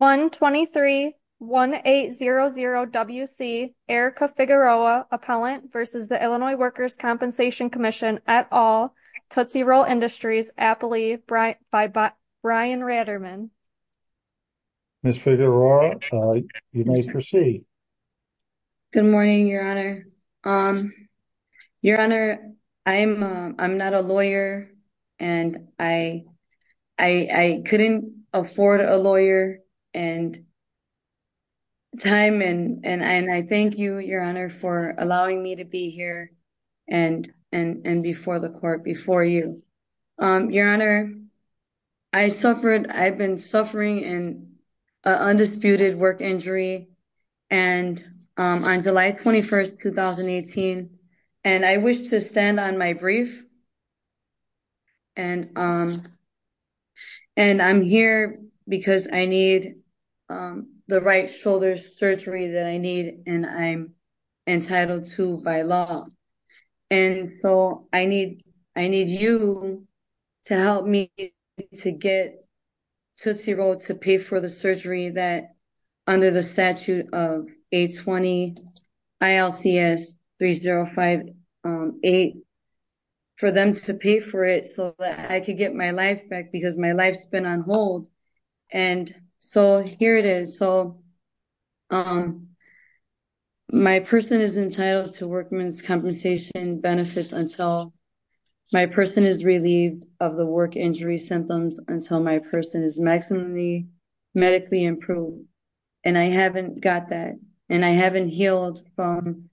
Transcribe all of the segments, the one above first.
123-1800-WC, Erica Figueroa, Appellant v. Illinois Workers' Compensation Comm'n, et al., Tootsie Roll Industries, Appley, by Brian Raderman. Ms. Figueroa, you may proceed. Good morning, Your Honor. Your Honor, I'm not a lawyer, and I couldn't afford a lawyer and time, and I thank you, Your Honor, for allowing me to be here and before the court, before you. Your Honor, I've been suffering an undisputed work injury on July 21, 2018, and I wish to stand on my brief, and I'm here because I need the right shoulder surgery that I need, and I'm entitled to by law, and so I need you to help me to get Tootsie Roll to pay for the surgery that, under the statute of 820-ILTS-3058, for them to pay for it so that I could get my life back, because my life's been on hold, and so here it is. So my person is entitled to workman's compensation benefits until my person is relieved of the work injury symptoms, until my person is maximally medically improved, and I haven't got that, and I haven't healed from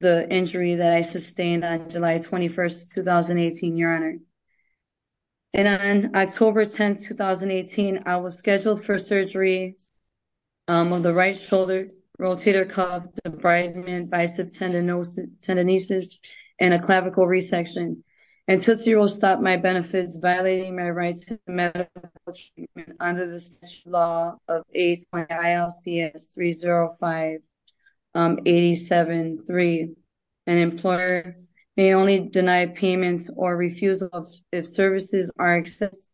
the injury that I sustained on July 21, 2018, Your Honor. And on October 10, 2018, I was scheduled for surgery on the right shoulder, rotator cuff, debridement, bicep tendinosis, tendinitis, and a clavicle resection, and Tootsie Roll stopped my benefits, violating my rights to medical treatment under the law of 820-ILTS-30587-3. An employer may only deny payments or refusal if services are in excess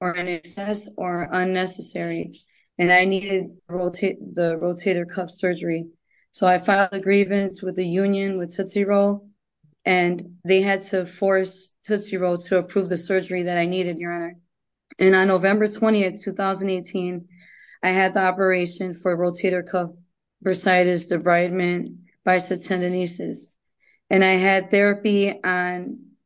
or unnecessary, and I needed the rotator cuff surgery, so I filed a grievance with the union, with Tootsie Roll, and they had to force Tootsie Roll to approve the surgery that I needed, Your Honor. And on November 20, 2018, I had the operation for rotator cuff bursitis, debridement, bicep tendinitis, and I had therapy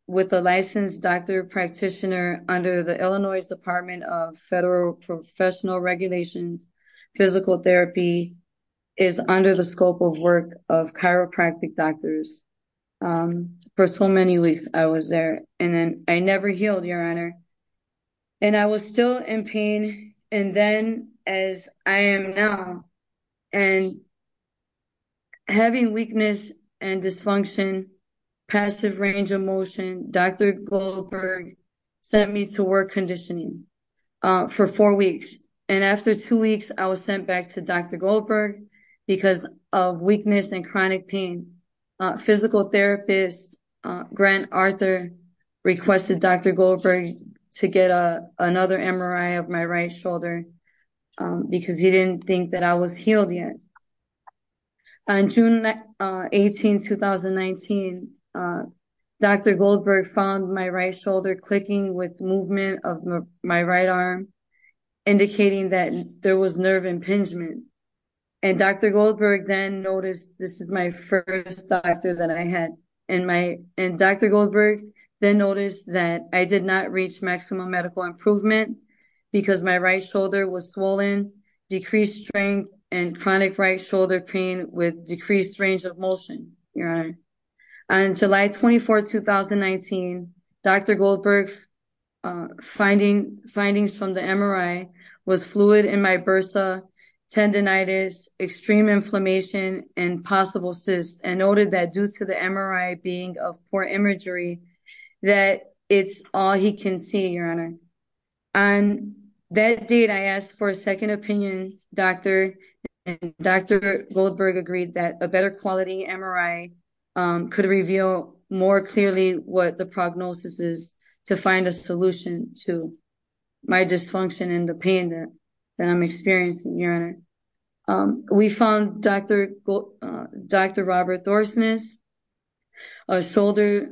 with a licensed doctor practitioner under the Illinois Department of Federal Professional Regulations. Physical therapy is under the scope of work of chiropractic doctors. For so many weeks, I was there, and I never healed, Your Honor. And I was still in pain, and then, as I am now, and having weakness and dysfunction, passive range of motion, Dr. Goldberg sent me to work conditioning for four weeks, and after two weeks, I was sent back to Dr. Goldberg because of weakness and chronic pain. Physical therapist Grant Arthur requested Dr. Goldberg to get another MRI of my right shoulder because he didn't think that I was healed yet. On June 18, 2019, Dr. Goldberg found my right shoulder clicking with movement of my right arm, indicating that there was nerve impingement. And Dr. Goldberg then noticed, this is my first doctor that I had, and Dr. Goldberg then noticed that I did not reach maximum medical improvement because my right shoulder was swollen, decreased strength, and chronic right shoulder pain with decreased range of motion, Your Honor. On July 24, 2019, Dr. Goldberg's findings from the MRI was fluid in my bursa, tendonitis, extreme inflammation, and possible cysts, and noted that due to the MRI being of poor imagery, that it's all he can see, Your Honor. On that date, I asked for a second opinion, and Dr. Goldberg agreed that a better quality MRI could reveal more clearly what the prognosis is to find a solution to my dysfunction and the pain that I'm experiencing, Your Honor. We found Dr. Robert Thorsness, a shoulder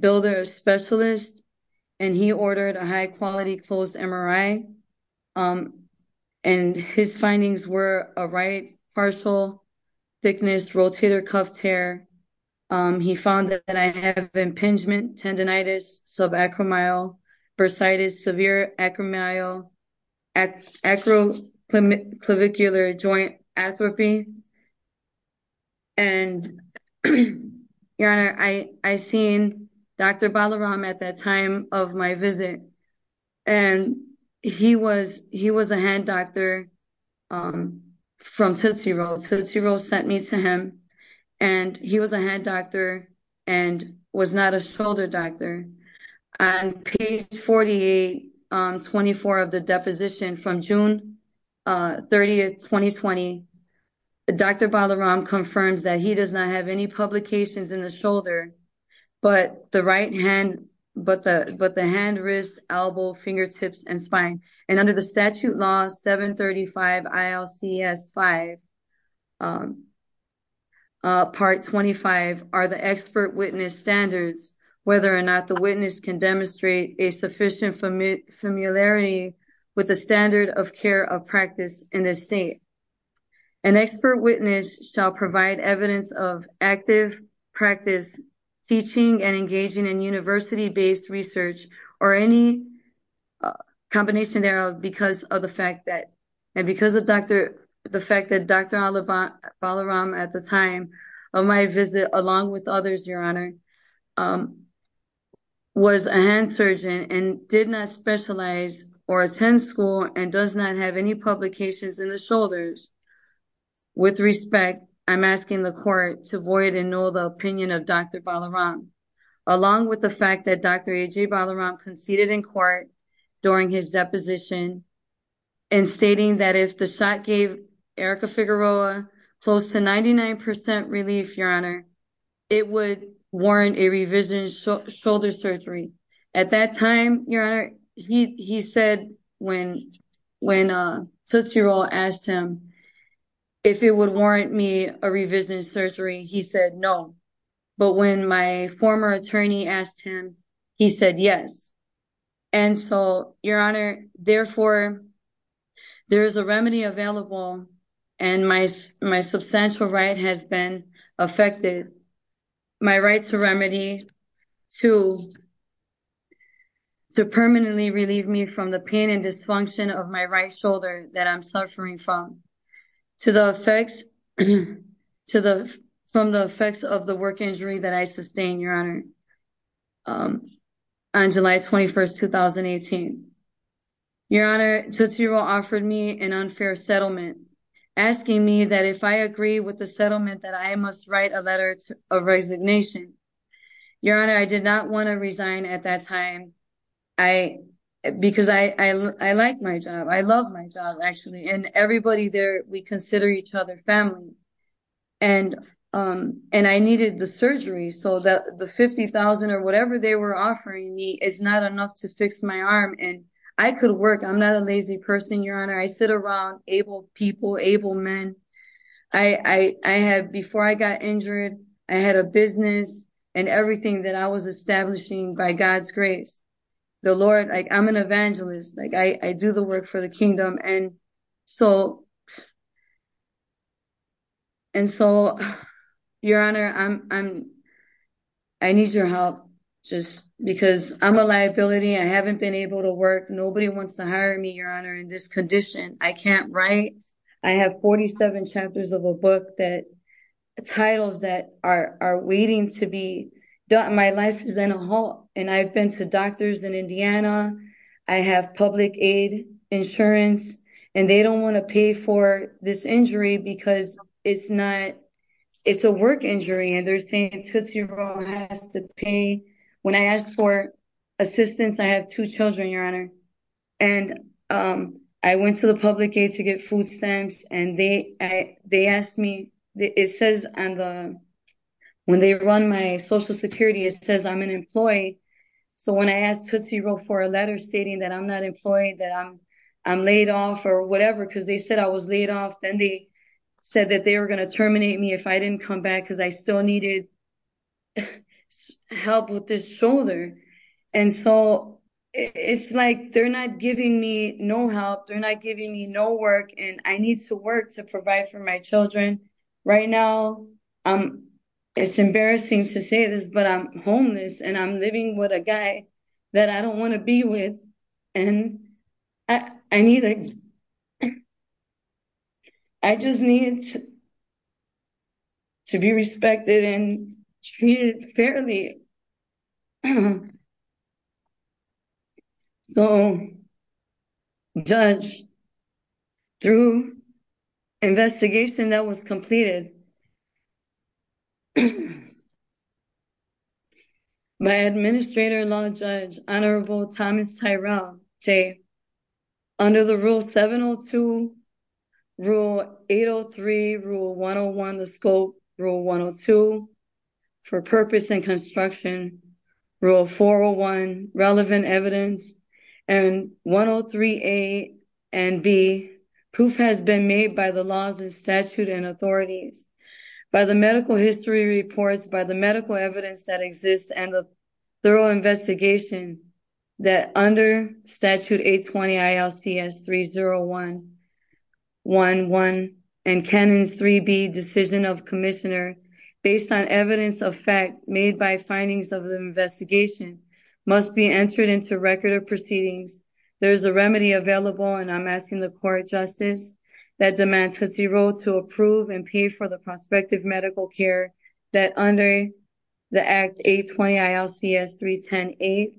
builder specialist, and he ordered a high-quality closed MRI, and his findings were a right partial thickness rotator cuff tear. He found that I have impingement, tendonitis, subacromial bursitis, severe acroclavicular joint atrophy, and, Your Honor, I seen Dr. Balaram at that time of my visit, and he was a hand doctor from Tootsie Roll. Tootsie Roll sent me to him, and he was a hand doctor and was not a shoulder doctor. On page 48, 24 of the deposition from June 30, 2020, Dr. Balaram confirms that he does not have any publications in the shoulder, but the right hand, but the hand, wrist, elbow, fingertips, and spine, and under the statute law 735 ILCS 5, part 25, are the expert witness standards, whether or not the witness can demonstrate a sufficient familiarity with the standard of care of practice in the state. An expert witness shall provide evidence of active practice, teaching, and engaging in based research or any combination thereof because of the fact that Dr. Balaram at the time of my visit, along with others, Your Honor, was a hand surgeon and did not specialize or attend school and does not have any publications in the shoulders. With respect, I'm asking the court to void and null the opinion of Dr. Balaram, along with the fact that Dr. AJ Balaram conceded in court during his deposition in stating that if the shot gave Erica Figueroa close to 99% relief, Your Honor, it would warrant a revision shoulder surgery. At that time, Your Honor, he said when Tootsie Roll asked him if it would warrant me a revision surgery, he said no. But when my former attorney asked him, he said yes. And so, Your Honor, therefore, there is a remedy available and my substantial right has been affected. My right to remedy to permanently relieve me from the pain and to the effects from the effects of the work injury that I sustained, Your Honor, on July 21st, 2018. Your Honor, Tootsie Roll offered me an unfair settlement, asking me that if I agree with the settlement that I must write a letter of resignation. Your Honor, I did not want to resign at that time because I like my job. I love my job, actually. And everybody there, we consider each other family. And I needed the surgery, so that the $50,000 or whatever they were offering me is not enough to fix my arm. And I could work. I'm not a lazy person, Your Honor. I sit around able people, able men. Before I got injured, I had a business and everything that I was establishing by God's grace. The Lord, I'm an evangelist. I do the work for the kingdom. And so, Your Honor, I need your help just because I'm a liability. I haven't been able to work. Nobody wants to hire me, Your Honor, in this condition. I can't write. I have 47 chapters of a book that titles that are waiting to be done. My life is in a halt. And I've been to doctors in Indiana. I have public aid insurance. And they don't want to pay for this injury because it's not, it's a work injury. And they're saying Tootsie Roll has to pay. When I asked for assistance, I have two children, Your Honor. And I went to the public aid to get food stamps. And they asked me, it says on the, when they run my social security, it says I'm an employee. So when I asked Tootsie Roll for a letter stating that I'm not employed, that I'm laid off or whatever, because they said I was laid off, then they said that they were going to terminate me if I didn't come back because I still needed help with this shoulder. And so, it's like they're not giving me no help. They're not giving me no work. And I need to work to provide for my children. Right now, it's embarrassing to say this, but I'm homeless. And I'm living with a guy that I don't want to be with. And I need, I just need to be respected and treated fairly. So, Judge, through investigation that was completed, my Administrator-in-Law Judge, Honorable Thomas Tyrell, say, under the Rule 702, Rule 803, Rule 101, the scope, Rule 102, for purpose and construction, Rule 401, relevant evidence, and 103 A and B, proof has been made by the laws and statute and authorities, by the medical history reports, by the medical evidence that exists and the thorough investigation that under Statute 820 ILCS 30111 and Canon 3B, Decision of Commissioner, based on evidence of fact made by findings of the investigation, must be entered into record of proceedings. There's a remedy available, and I'm asking the Court of Justice that demands that he vote to approve and pay for the prospective medical care that under the Act 820 ILCS 3108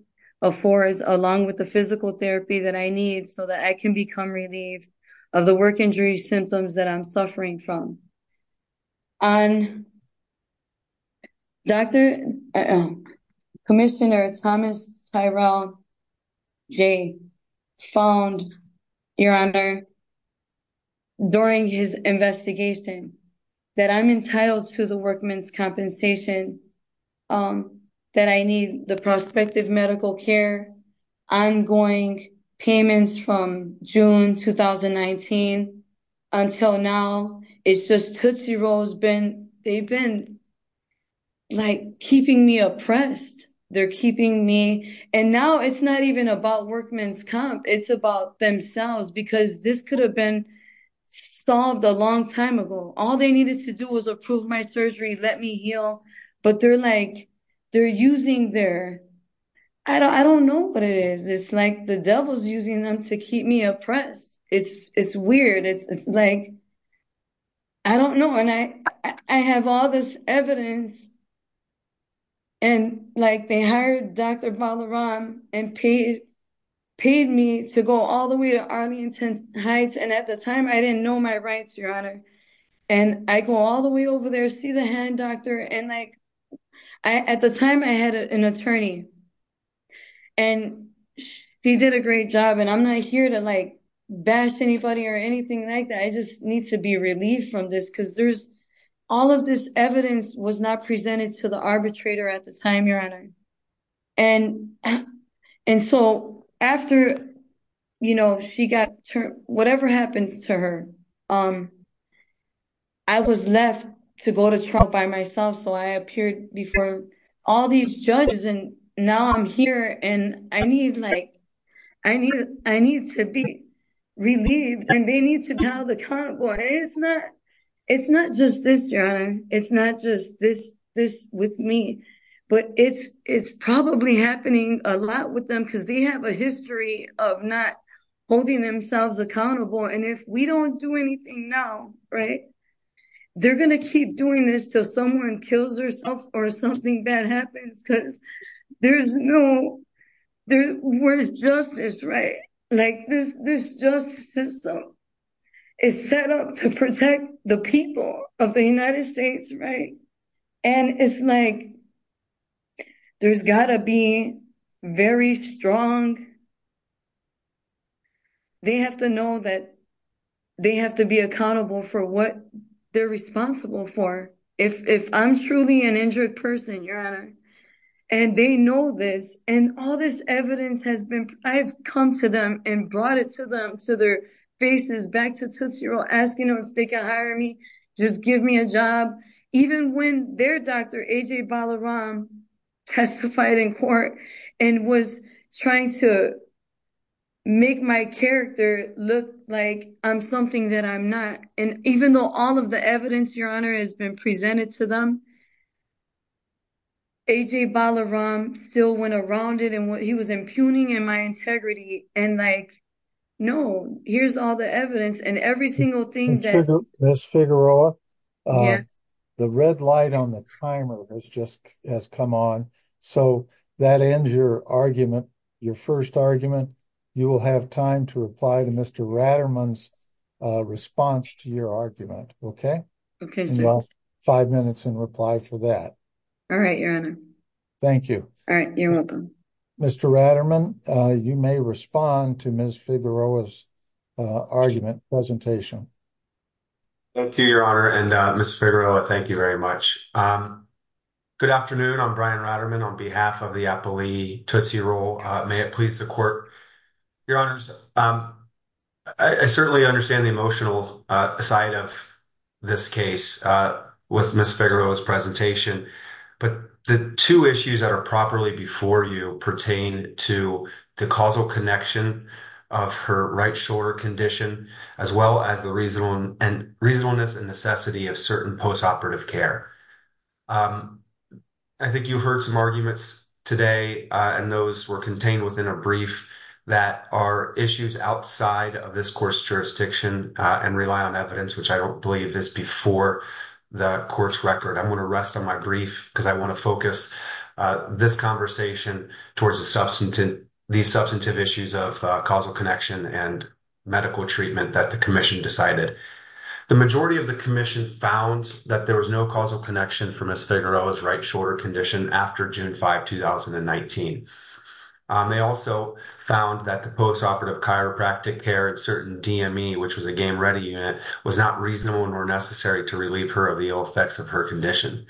affords, along with the physical therapy that I need so that I can become relieved of the work injury symptoms that I'm suffering from. And Dr. Commissioner Thomas Tyrell, Jay, found, Your Honor, during his investigation that I'm entitled to the workman's compensation, that I need the prospective medical care, ongoing payments from June 2019 until now, it's just Tootsie Roll's been, they've been like keeping me oppressed. They're keeping me, and now it's not even about workman's comp, it's about themselves, because this could have been solved a long time ago. All they needed to do was approve my surgery, let me heal, but they're like, they're using their, I don't, I don't know what it is. It's like the devil's using them to keep me oppressed. It's, it's weird. It's like, I don't know. And I, I have all this evidence, and like they hired Dr. Balaram and paid, paid me to go all the way to Arlington Heights, and at the time I didn't know my rights, Your Honor, and I go all the way over there, see the hand doctor, and like, I, at the time I had an attorney, and he did a great job, and I'm not here to like bash anybody or anything like that. I just need to be relieved from this, because there's, all of this evidence was not presented to the arbitrator at the time, Your Honor. And, and so after, you know, she got, whatever happens to her, I was left to go to trial by myself, so I appeared before all these judges, and now I'm here, and I need like, I need, I need to be relieved, and they need to tell the convoy, it's not, it's not just this, Your Honor, it's not just this, this with me, but it's, it's probably happening a lot with them, because they have a history of not holding themselves accountable, and if we don't do anything now, right, they're going to keep doing this till someone kills themselves or something bad happens, because there's no, there, where's justice, right? Like, this, this justice system is set up to protect the people of the United States, right, and it's like, there's gotta be very strong, they have to know that they have to be accountable for what they're responsible for, if, if I'm truly an injured person, Your Honor, and they know this, and all this evidence has been, I've come to them and brought it to them, to their faces, back to Tuscarora, asking them if they can hire me, just give me a job, even when their Dr. A.J. Balaram testified in court and was trying to make my character look like I'm something that I'm not, and even though all of the evidence, Your Honor, has been presented to them, A.J. Balaram still went around it, and what he was impugning in my integrity, and like, no, here's all the evidence, and every single thing, Ms. Figueroa, the red light on the timer has just, has come on, so that ends your argument, your first argument, you will have time to reply to Mr. Raderman's response to your argument, okay? Okay, sir. Five minutes and reply for that. All right, Your Honor. Thank you. All right, you're welcome. Mr. Raderman, you may respond to Ms. Figueroa's argument, presentation. Thank you, Your Honor, and Ms. Figueroa, thank you very much. Good afternoon, I'm Brian Raderman on behalf of the Appalachee Tootsie Roll, may it please the court, Your Honors, I certainly understand the emotional side of this case with Ms. Figueroa's pertain to the causal connection of her right shoulder condition, as well as the reasonableness and necessity of certain post-operative care. I think you heard some arguments today, and those were contained within a brief, that are issues outside of this court's jurisdiction, and rely on evidence, which I don't believe is before the court's record. I'm going to rest on my brief, because I want to focus this conversation towards these substantive issues of causal connection and medical treatment that the commission decided. The majority of the commission found that there was no causal connection for Ms. Figueroa's right shoulder condition after June 5, 2019. They also found that the post-operative chiropractic care at certain DME, which was a game-ready unit, was not reasonable nor necessary to relieve her of the ill effects of her condition.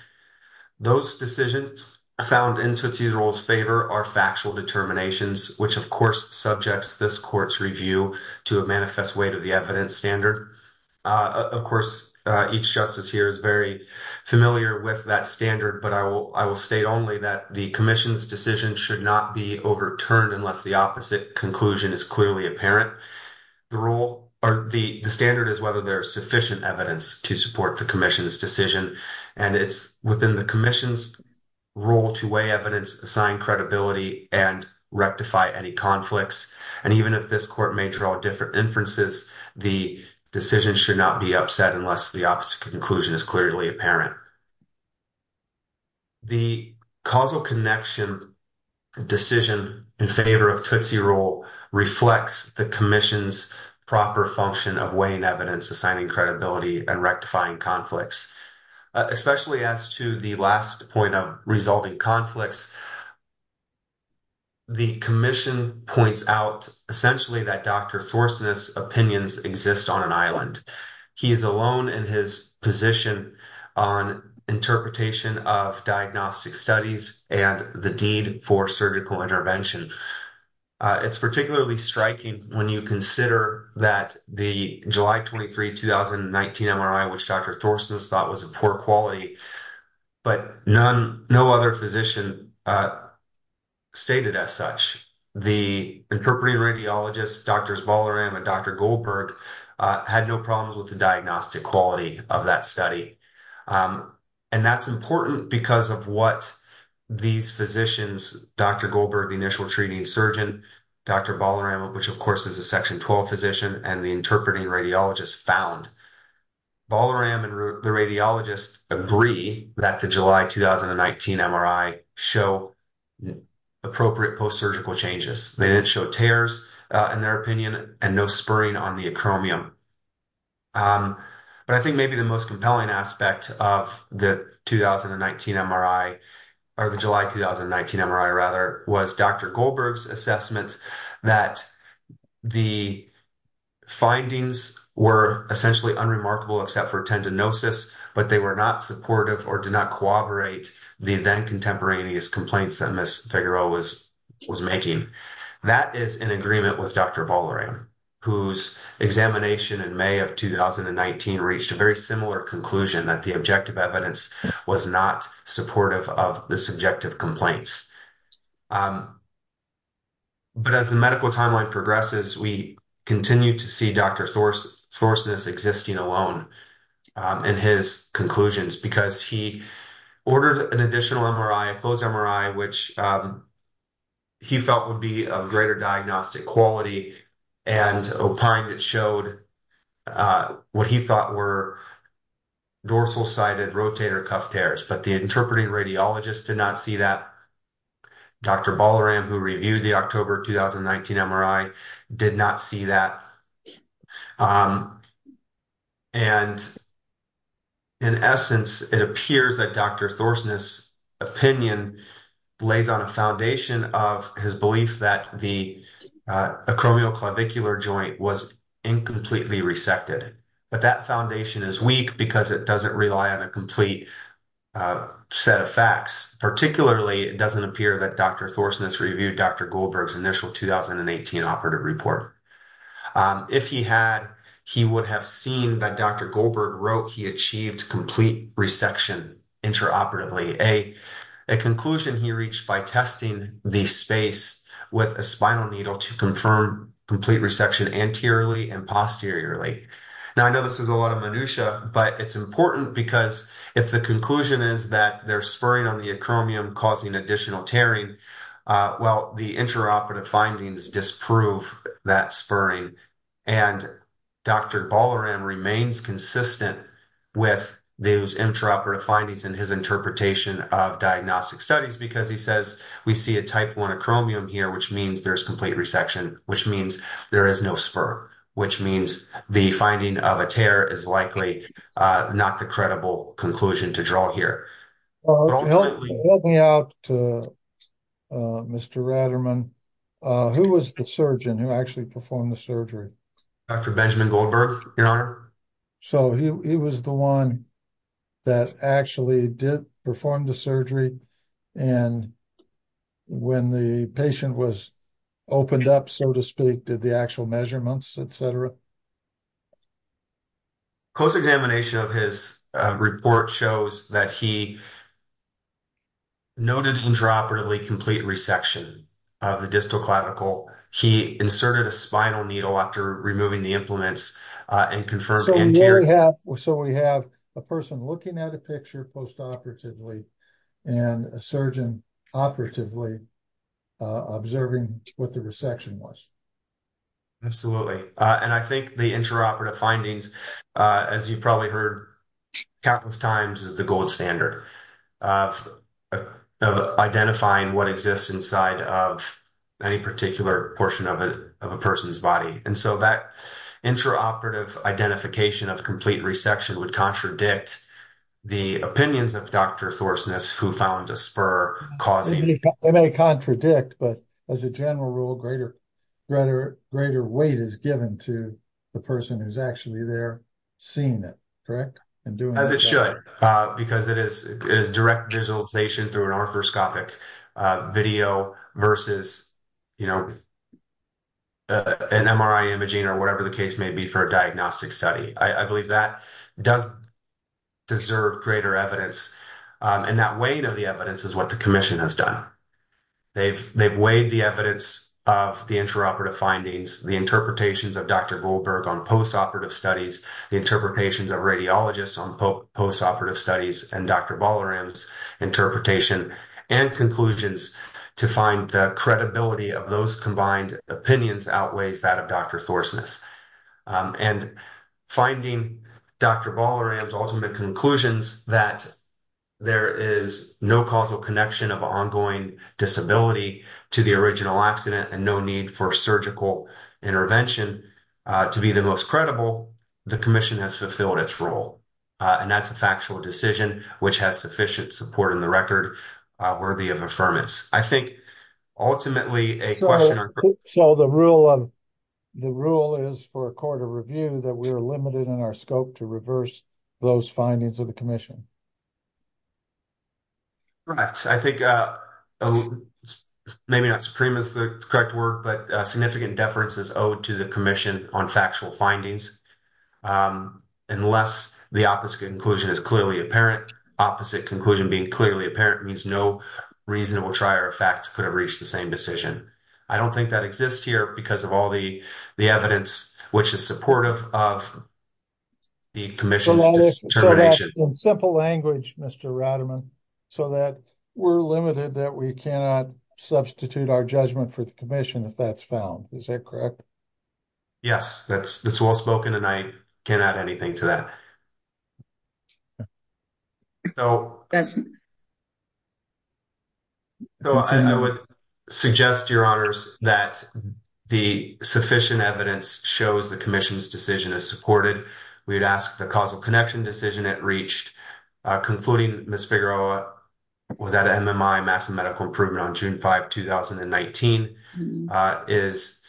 Those decisions found in Tootsie Roll's favor are factual determinations, which of course subjects this court's review to a manifest way to the evidence standard. Of course, each justice here is very familiar with that standard, but I will state only that the commission's decision should not be overturned unless the opposite conclusion is clearly apparent. The standard is whether there is sufficient evidence to support the commission's decision. It's within the commission's role to weigh evidence, assign credibility, and rectify any conflicts. Even if this court may draw different inferences, the decision should not be upset unless the opposite conclusion is clearly apparent. The causal connection decision in favor of Tootsie Roll reflects the commission's proper function of weighing evidence, assigning credibility, and rectifying conflicts. Especially as to the last point of resulting conflicts, the commission points out essentially that Dr. Thorson's opinions exist on an island. He is alone in his position on interpretation of diagnostic studies and the deed for surgical intervention. It's particularly striking when you consider that the July 23, 2019 MRI, which Dr. Thorson thought was of poor quality, but no other physician stated as such. The interpreting radiologist, Drs. Ballaram and Dr. Goldberg, had no problems with the diagnostic quality of that surgeon, Dr. Ballaram, which of course is a Section 12 physician, and the interpreting radiologist found. Ballaram and the radiologist agree that the July 2019 MRI showed appropriate post-surgical changes. They didn't show tears in their opinion and no spurring on the acromion. But I think maybe the most compelling aspect of the July 2019 MRI was Dr. Goldberg's assessment that the findings were essentially unremarkable except for tendinosis, but they were not supportive or did not corroborate the then contemporaneous complaints that Ms. Figueroa was making. That is in agreement with Dr. Ballaram, whose examination in May of 2019 reached a very similar conclusion that the objective evidence was not supportive of the subjective complaints. But as the medical timeline progresses, we continue to see Dr. Thorson as existing alone in his conclusions because he ordered an additional MRI, a closed he felt would be of greater diagnostic quality, and opined it showed what he thought were dorsal-sided rotator cuff tears. But the interpreting radiologist did not see that. Dr. Ballaram, who reviewed the October 2019 MRI, did not see that. And in essence, it appears that Dr. Thorson's opinion lays on a foundation of his belief that the acromioclavicular joint was incompletely resected. But that foundation is weak because it doesn't rely on a complete set of facts. Particularly, it doesn't appear that Dr. Thorson has reviewed Dr. Goldberg's initial 2018 operative report. If he had, he would have seen that Dr. Goldberg wrote he achieved complete resection intraoperatively, a conclusion he reached by testing the space with a spinal needle to confirm complete resection anteriorly and posteriorly. Now, I know this is a lot of minutiae, but it's important because if the conclusion is that they're spurring on the acromion causing additional tearing, well, the intraoperative findings disprove that spurring. And Dr. Ballaram remains consistent with those intraoperative findings in his interpretation of diagnostic studies because he says we see a type I acromion here, which means there's complete resection, which means there is no spur, which means the finding of a tear is likely not the credible conclusion to here. Help me out to Mr. Ratterman. Who was the surgeon who actually performed the surgery? Dr. Benjamin Goldberg, your honor. So he was the one that actually did perform the surgery. And when the patient was opened up, so to speak, did the actual measurements, etc. A close examination of his report shows that he noted intraoperatively complete resection of the distal clavicle. He inserted a spinal needle after removing the implements and confirmed anterior. So we have a person looking at a picture post-operatively and a surgeon operatively observing what the resection was. Absolutely. And I think the intraoperative findings, as you've probably heard countless times, is the gold standard of identifying what exists inside of any particular portion of a person's body. And so that intraoperative identification of complete resection would contradict the opinions of Dr. Thorsnes, who found a spur causing. It may contradict, but as a general rule, greater weight is given to the person who's actually there seeing it, correct? As it should, because it is direct visualization through an arthroscopic video versus, you know, an MRI imaging or whatever the case may be for a diagnostic study. I believe that does deserve greater evidence. And that weight of the evidence is what the commission has done. They've weighed the evidence of the intraoperative findings, the interpretations of Dr. Goldberg on post-operative studies, the interpretations of radiologists on post-operative studies, and Dr. Ballaram's interpretation and conclusions to find the credibility of those combined opinions outweighs that of Dr. Thorsnes. And finding Dr. Ballaram's ultimate conclusions that there is no causal connection of ongoing disability to the original accident and no need for surgical intervention to be the most credible, the commission has fulfilled its role. And that's a factual decision, which has sufficient support in the record worthy of I think, ultimately, a question... So the rule is for a court of review that we are limited in our scope to reverse those findings of the commission. Right. I think maybe not supreme is the correct word, but significant deference is owed to the commission on factual findings. Unless the opposite conclusion is clearly apparent, opposite conclusion being clearly apparent means no reasonable trier of fact could have reached the same decision. I don't think that exists here because of all the evidence, which is supportive of the commission's determination. So in simple language, Mr. Rademan, so that we're limited that we cannot substitute our judgment for the commission if that's found. Is that correct? Yes, that's well spoken and I can't add anything to that. So I would suggest, Your Honors, that the sufficient evidence shows the commission's decision is supported. We'd ask the causal connection decision it reached concluding Ms. Figueroa was at an MMI, Massive Medical Improvement on June 5, 2019 is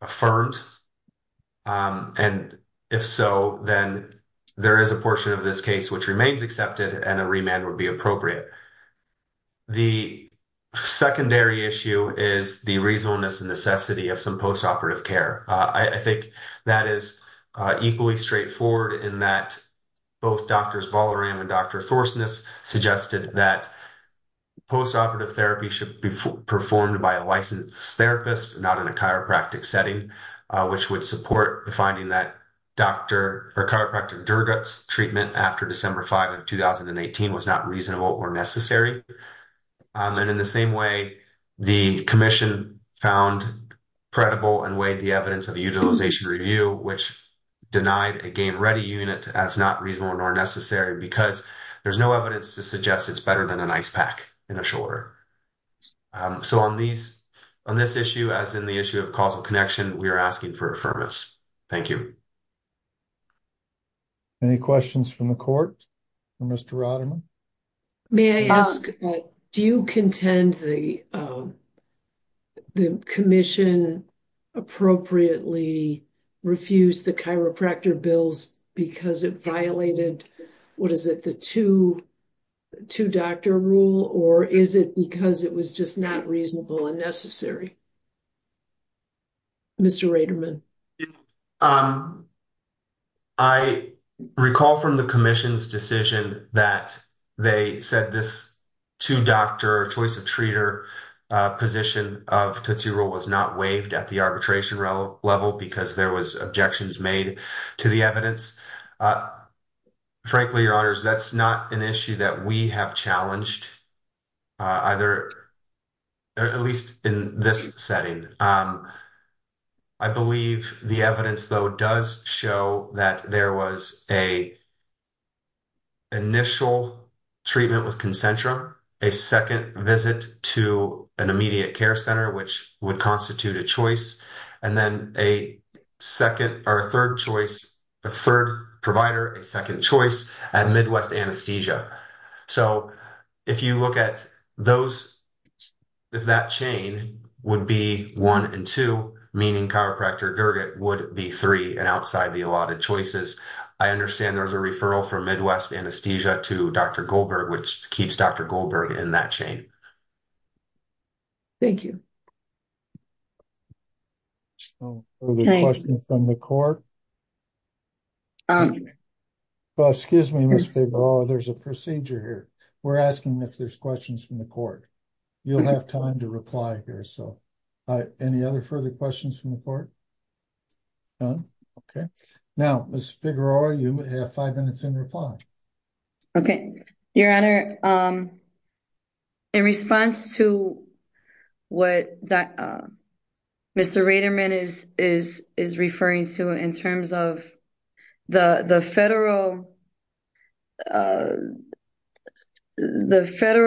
affirmed. And if so, then there is a portion of this case which remains accepted and a remand would be appropriate. The secondary issue is the reasonableness and necessity of some post-operative care. I think that is equally straightforward in that both Drs. Ballaram and Dr. Thorsness suggested that post-operative therapy should be performed by a licensed therapist, not in a chiropractic setting, which would support the finding that chiropractic Durgat's treatment after December 5 of 2018 was not reasonable or necessary. And in the same way, the commission found credible and weighed the evidence of utilization review, which denied a game-ready unit as not reasonable nor necessary because there's no evidence to better than an ice pack in a shoulder. So on this issue, as in the issue of causal connection, we are asking for affirmance. Thank you. Any questions from the court for Mr. Roderman? May I ask, do you contend the commission appropriately refused the chiropractor bills because it violated the two-doctor rule, or is it because it was just not reasonable and necessary? Mr. Roderman? I recall from the commission's decision that they said this two-doctor, choice-of-treater position of the two-rule was not waived at the arbitration level because there were objections made to the evidence. Frankly, Your Honors, that's not an issue that we have challenged, at least in this setting. I believe the evidence, though, does show that there was an initial treatment with Concentra, a second visit to an immediate care center, which would constitute a choice, and then a third provider, a second choice, at Midwest Anesthesia. So if you look at that chain, it would be one and two, meaning chiropractor Gerget would be three and outside the allotted choices. I understand there was a referral from Midwest Anesthesia to Dr. Goldberg, which keeps Dr. Goldberg in that chain. Thank you. Excuse me, Ms. Figueroa, there's a procedure here. We're asking if there's questions from the court. You'll have time to reply here. Any other further questions from the court? None. Okay. Now, Ms. Figueroa, you have five minutes in reply. Okay. Your Honor, in response to what Mr. Raterman is referring to in terms of the federal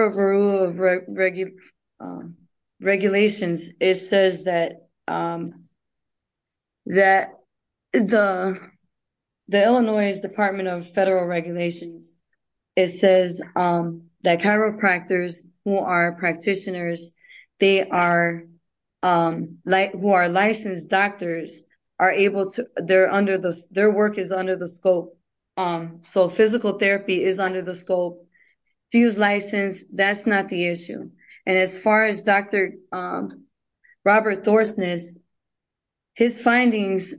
rule of regulations, it says that the Illinois Department of Federal Regulations, it says that chiropractors who are practitioners, who are licensed doctors, are able to, they're under the, their work is under the scope. So physical therapy is under the scope. If he was licensed, that's not the issue. And as far as Dr. Robert Thorsness, his findings,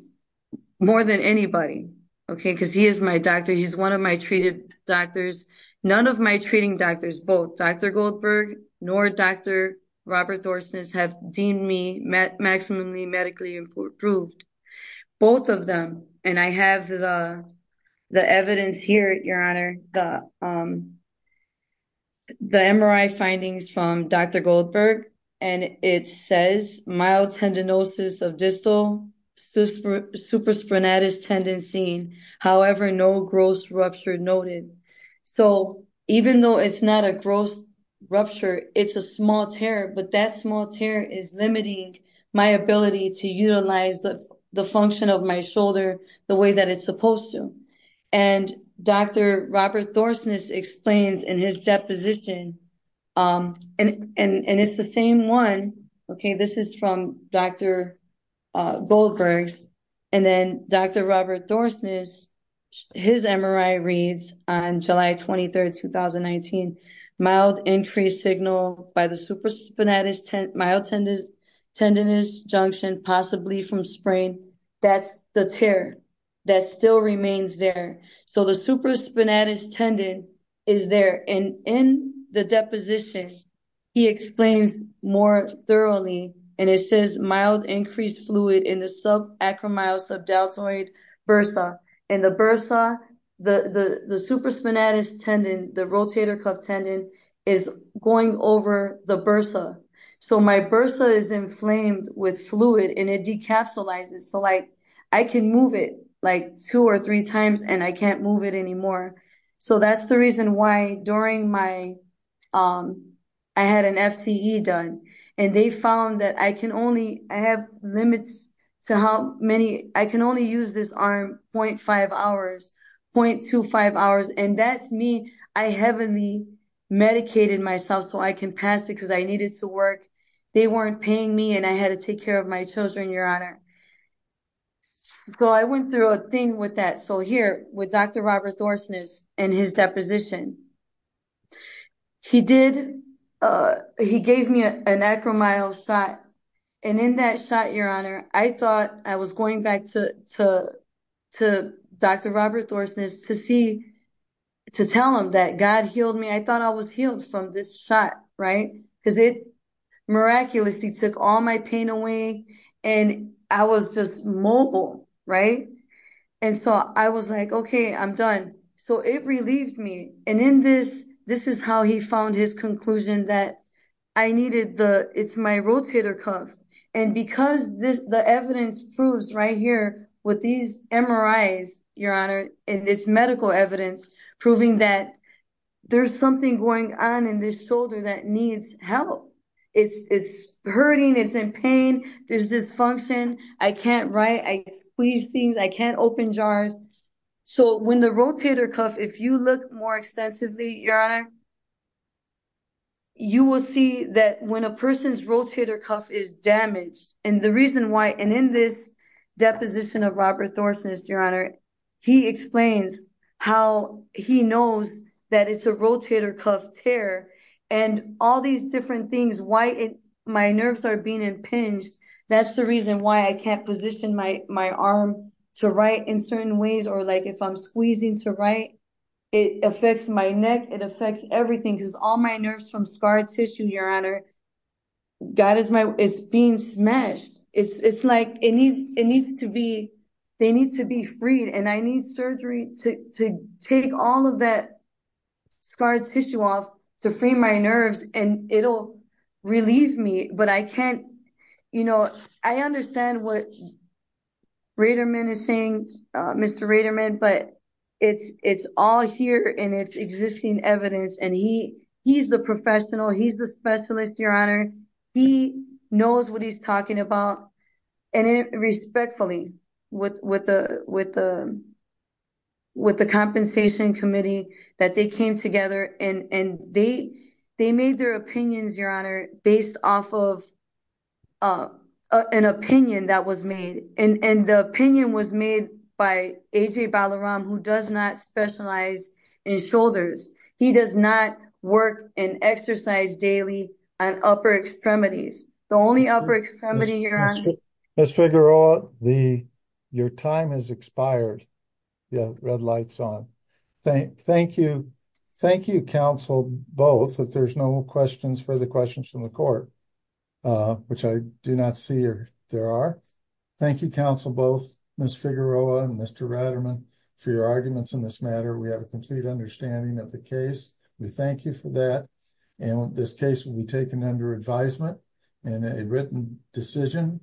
more than anybody, okay, because he is my doctor, he's one of my treated doctors, none of my treating doctors, both Dr. Goldberg nor Dr. Robert Thorsness have deemed me maximally medically improved. Both of them, and I have the evidence here, Your Honor, the MRI findings from Dr. Goldberg, and it says mild tendinosis of distal supraspinatus tendency, however, no gross rupture noted. So even though it's not a gross rupture, it's a small tear, but that small tear is limiting my ability to utilize the function of my shoulder the way that it's supposed to. And Dr. Robert Thorsness explains in his deposition, and it's the same one, okay, this is from Dr. Goldberg, and then Dr. Robert Thorsness, his MRI reads on July 23rd, 2019, mild increased signal by the supraspinatus mild tendinous junction, possibly from sprain, that's the tear that still remains there. So the supraspinatus tendon is there, and in the deposition, he explains more thoroughly, and it says mild increased fluid in the subacromyosubdeltoid bursa, and the bursa, the supraspinatus tendon, the rotator cuff tendon, is going over the bursa. So my bursa is inflamed with fluid, and it decapsulizes, so I can move it two or three times, and I can't move it anymore. So that's the reason why during my, I had an FTE done, and they found that I can only, I have limits to how many, I can only use this arm 0.5 hours, 0.25 hours, and that's me, I heavily medicated myself so I can pass it because I needed to work. They weren't paying me, and I had to take care of my children, your honor. So I went through a thing with that. So with Dr. Robert Thorsness and his deposition, he did, he gave me an acromyo shot, and in that shot, your honor, I thought I was going back to Dr. Robert Thorsness to see, to tell him that God healed me. I thought I was healed from this shot, right, because it miraculously took all my pain away, and I was just mobile, right, and so I was like, okay, I'm done. So it relieved me, and in this, this is how he found his conclusion that I needed the, it's my rotator cuff, and because this, the evidence proves right here with these MRIs, your honor, and this medical evidence proving that there's something going on in this shoulder that needs help. It's hurting, it's in pain, there's dysfunction, I can't write, I squeeze things, I can't open jars. So when the rotator cuff, if you look more extensively, your honor, you will see that when a person's rotator cuff is damaged, and the reason why, and in this deposition of Robert Thorsness, your honor, he explains how he knows that it's a rotator cuff tear, and all these different things, why it, my nerves are being impinged, that's the reason why I can't position my, my arm to write in certain ways, or like if I'm squeezing to write, it affects my neck, it affects everything, because all my nerves from scar tissue, your honor, God is my, it's being smashed. It's, it's like it needs, it needs to be, they need to be freed, and I need surgery to take all of that scar tissue off to free my nerves, and it'll relieve me, but I can't, you know, I understand what Raterman is saying, Mr. Raterman, but it's, it's all here, and it's existing evidence, and he, he's the professional, he's the specialist, your honor, he knows what he's talking about, and respectfully with, with the, with the, with the compensation committee that they came together, and, and they, they made their opinions, your honor, based off of an opinion that was made, and, and the opinion was made by A.J. Balaram, who does not specialize in shoulders. He does not work and exercise daily on upper extremities. The only upper extremity, your honor. Ms. Figueroa, the, your time has expired. You have red lights on. Thank, thank you, thank you, counsel, both, if there's no questions, further questions from the court, which I do not see there are. Thank you, counsel, both, Ms. Figueroa and Mr. Raterman for your arguments in this matter. We have a complete understanding of the case. We thank you for that, and this case will be taken under advisement, and a written decision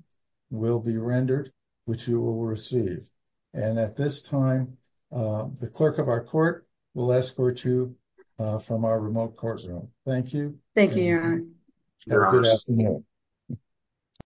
will be rendered, which you will receive, and at this time, the clerk of our court will escort you from our remote courtroom. Thank you. Thank you, your honor.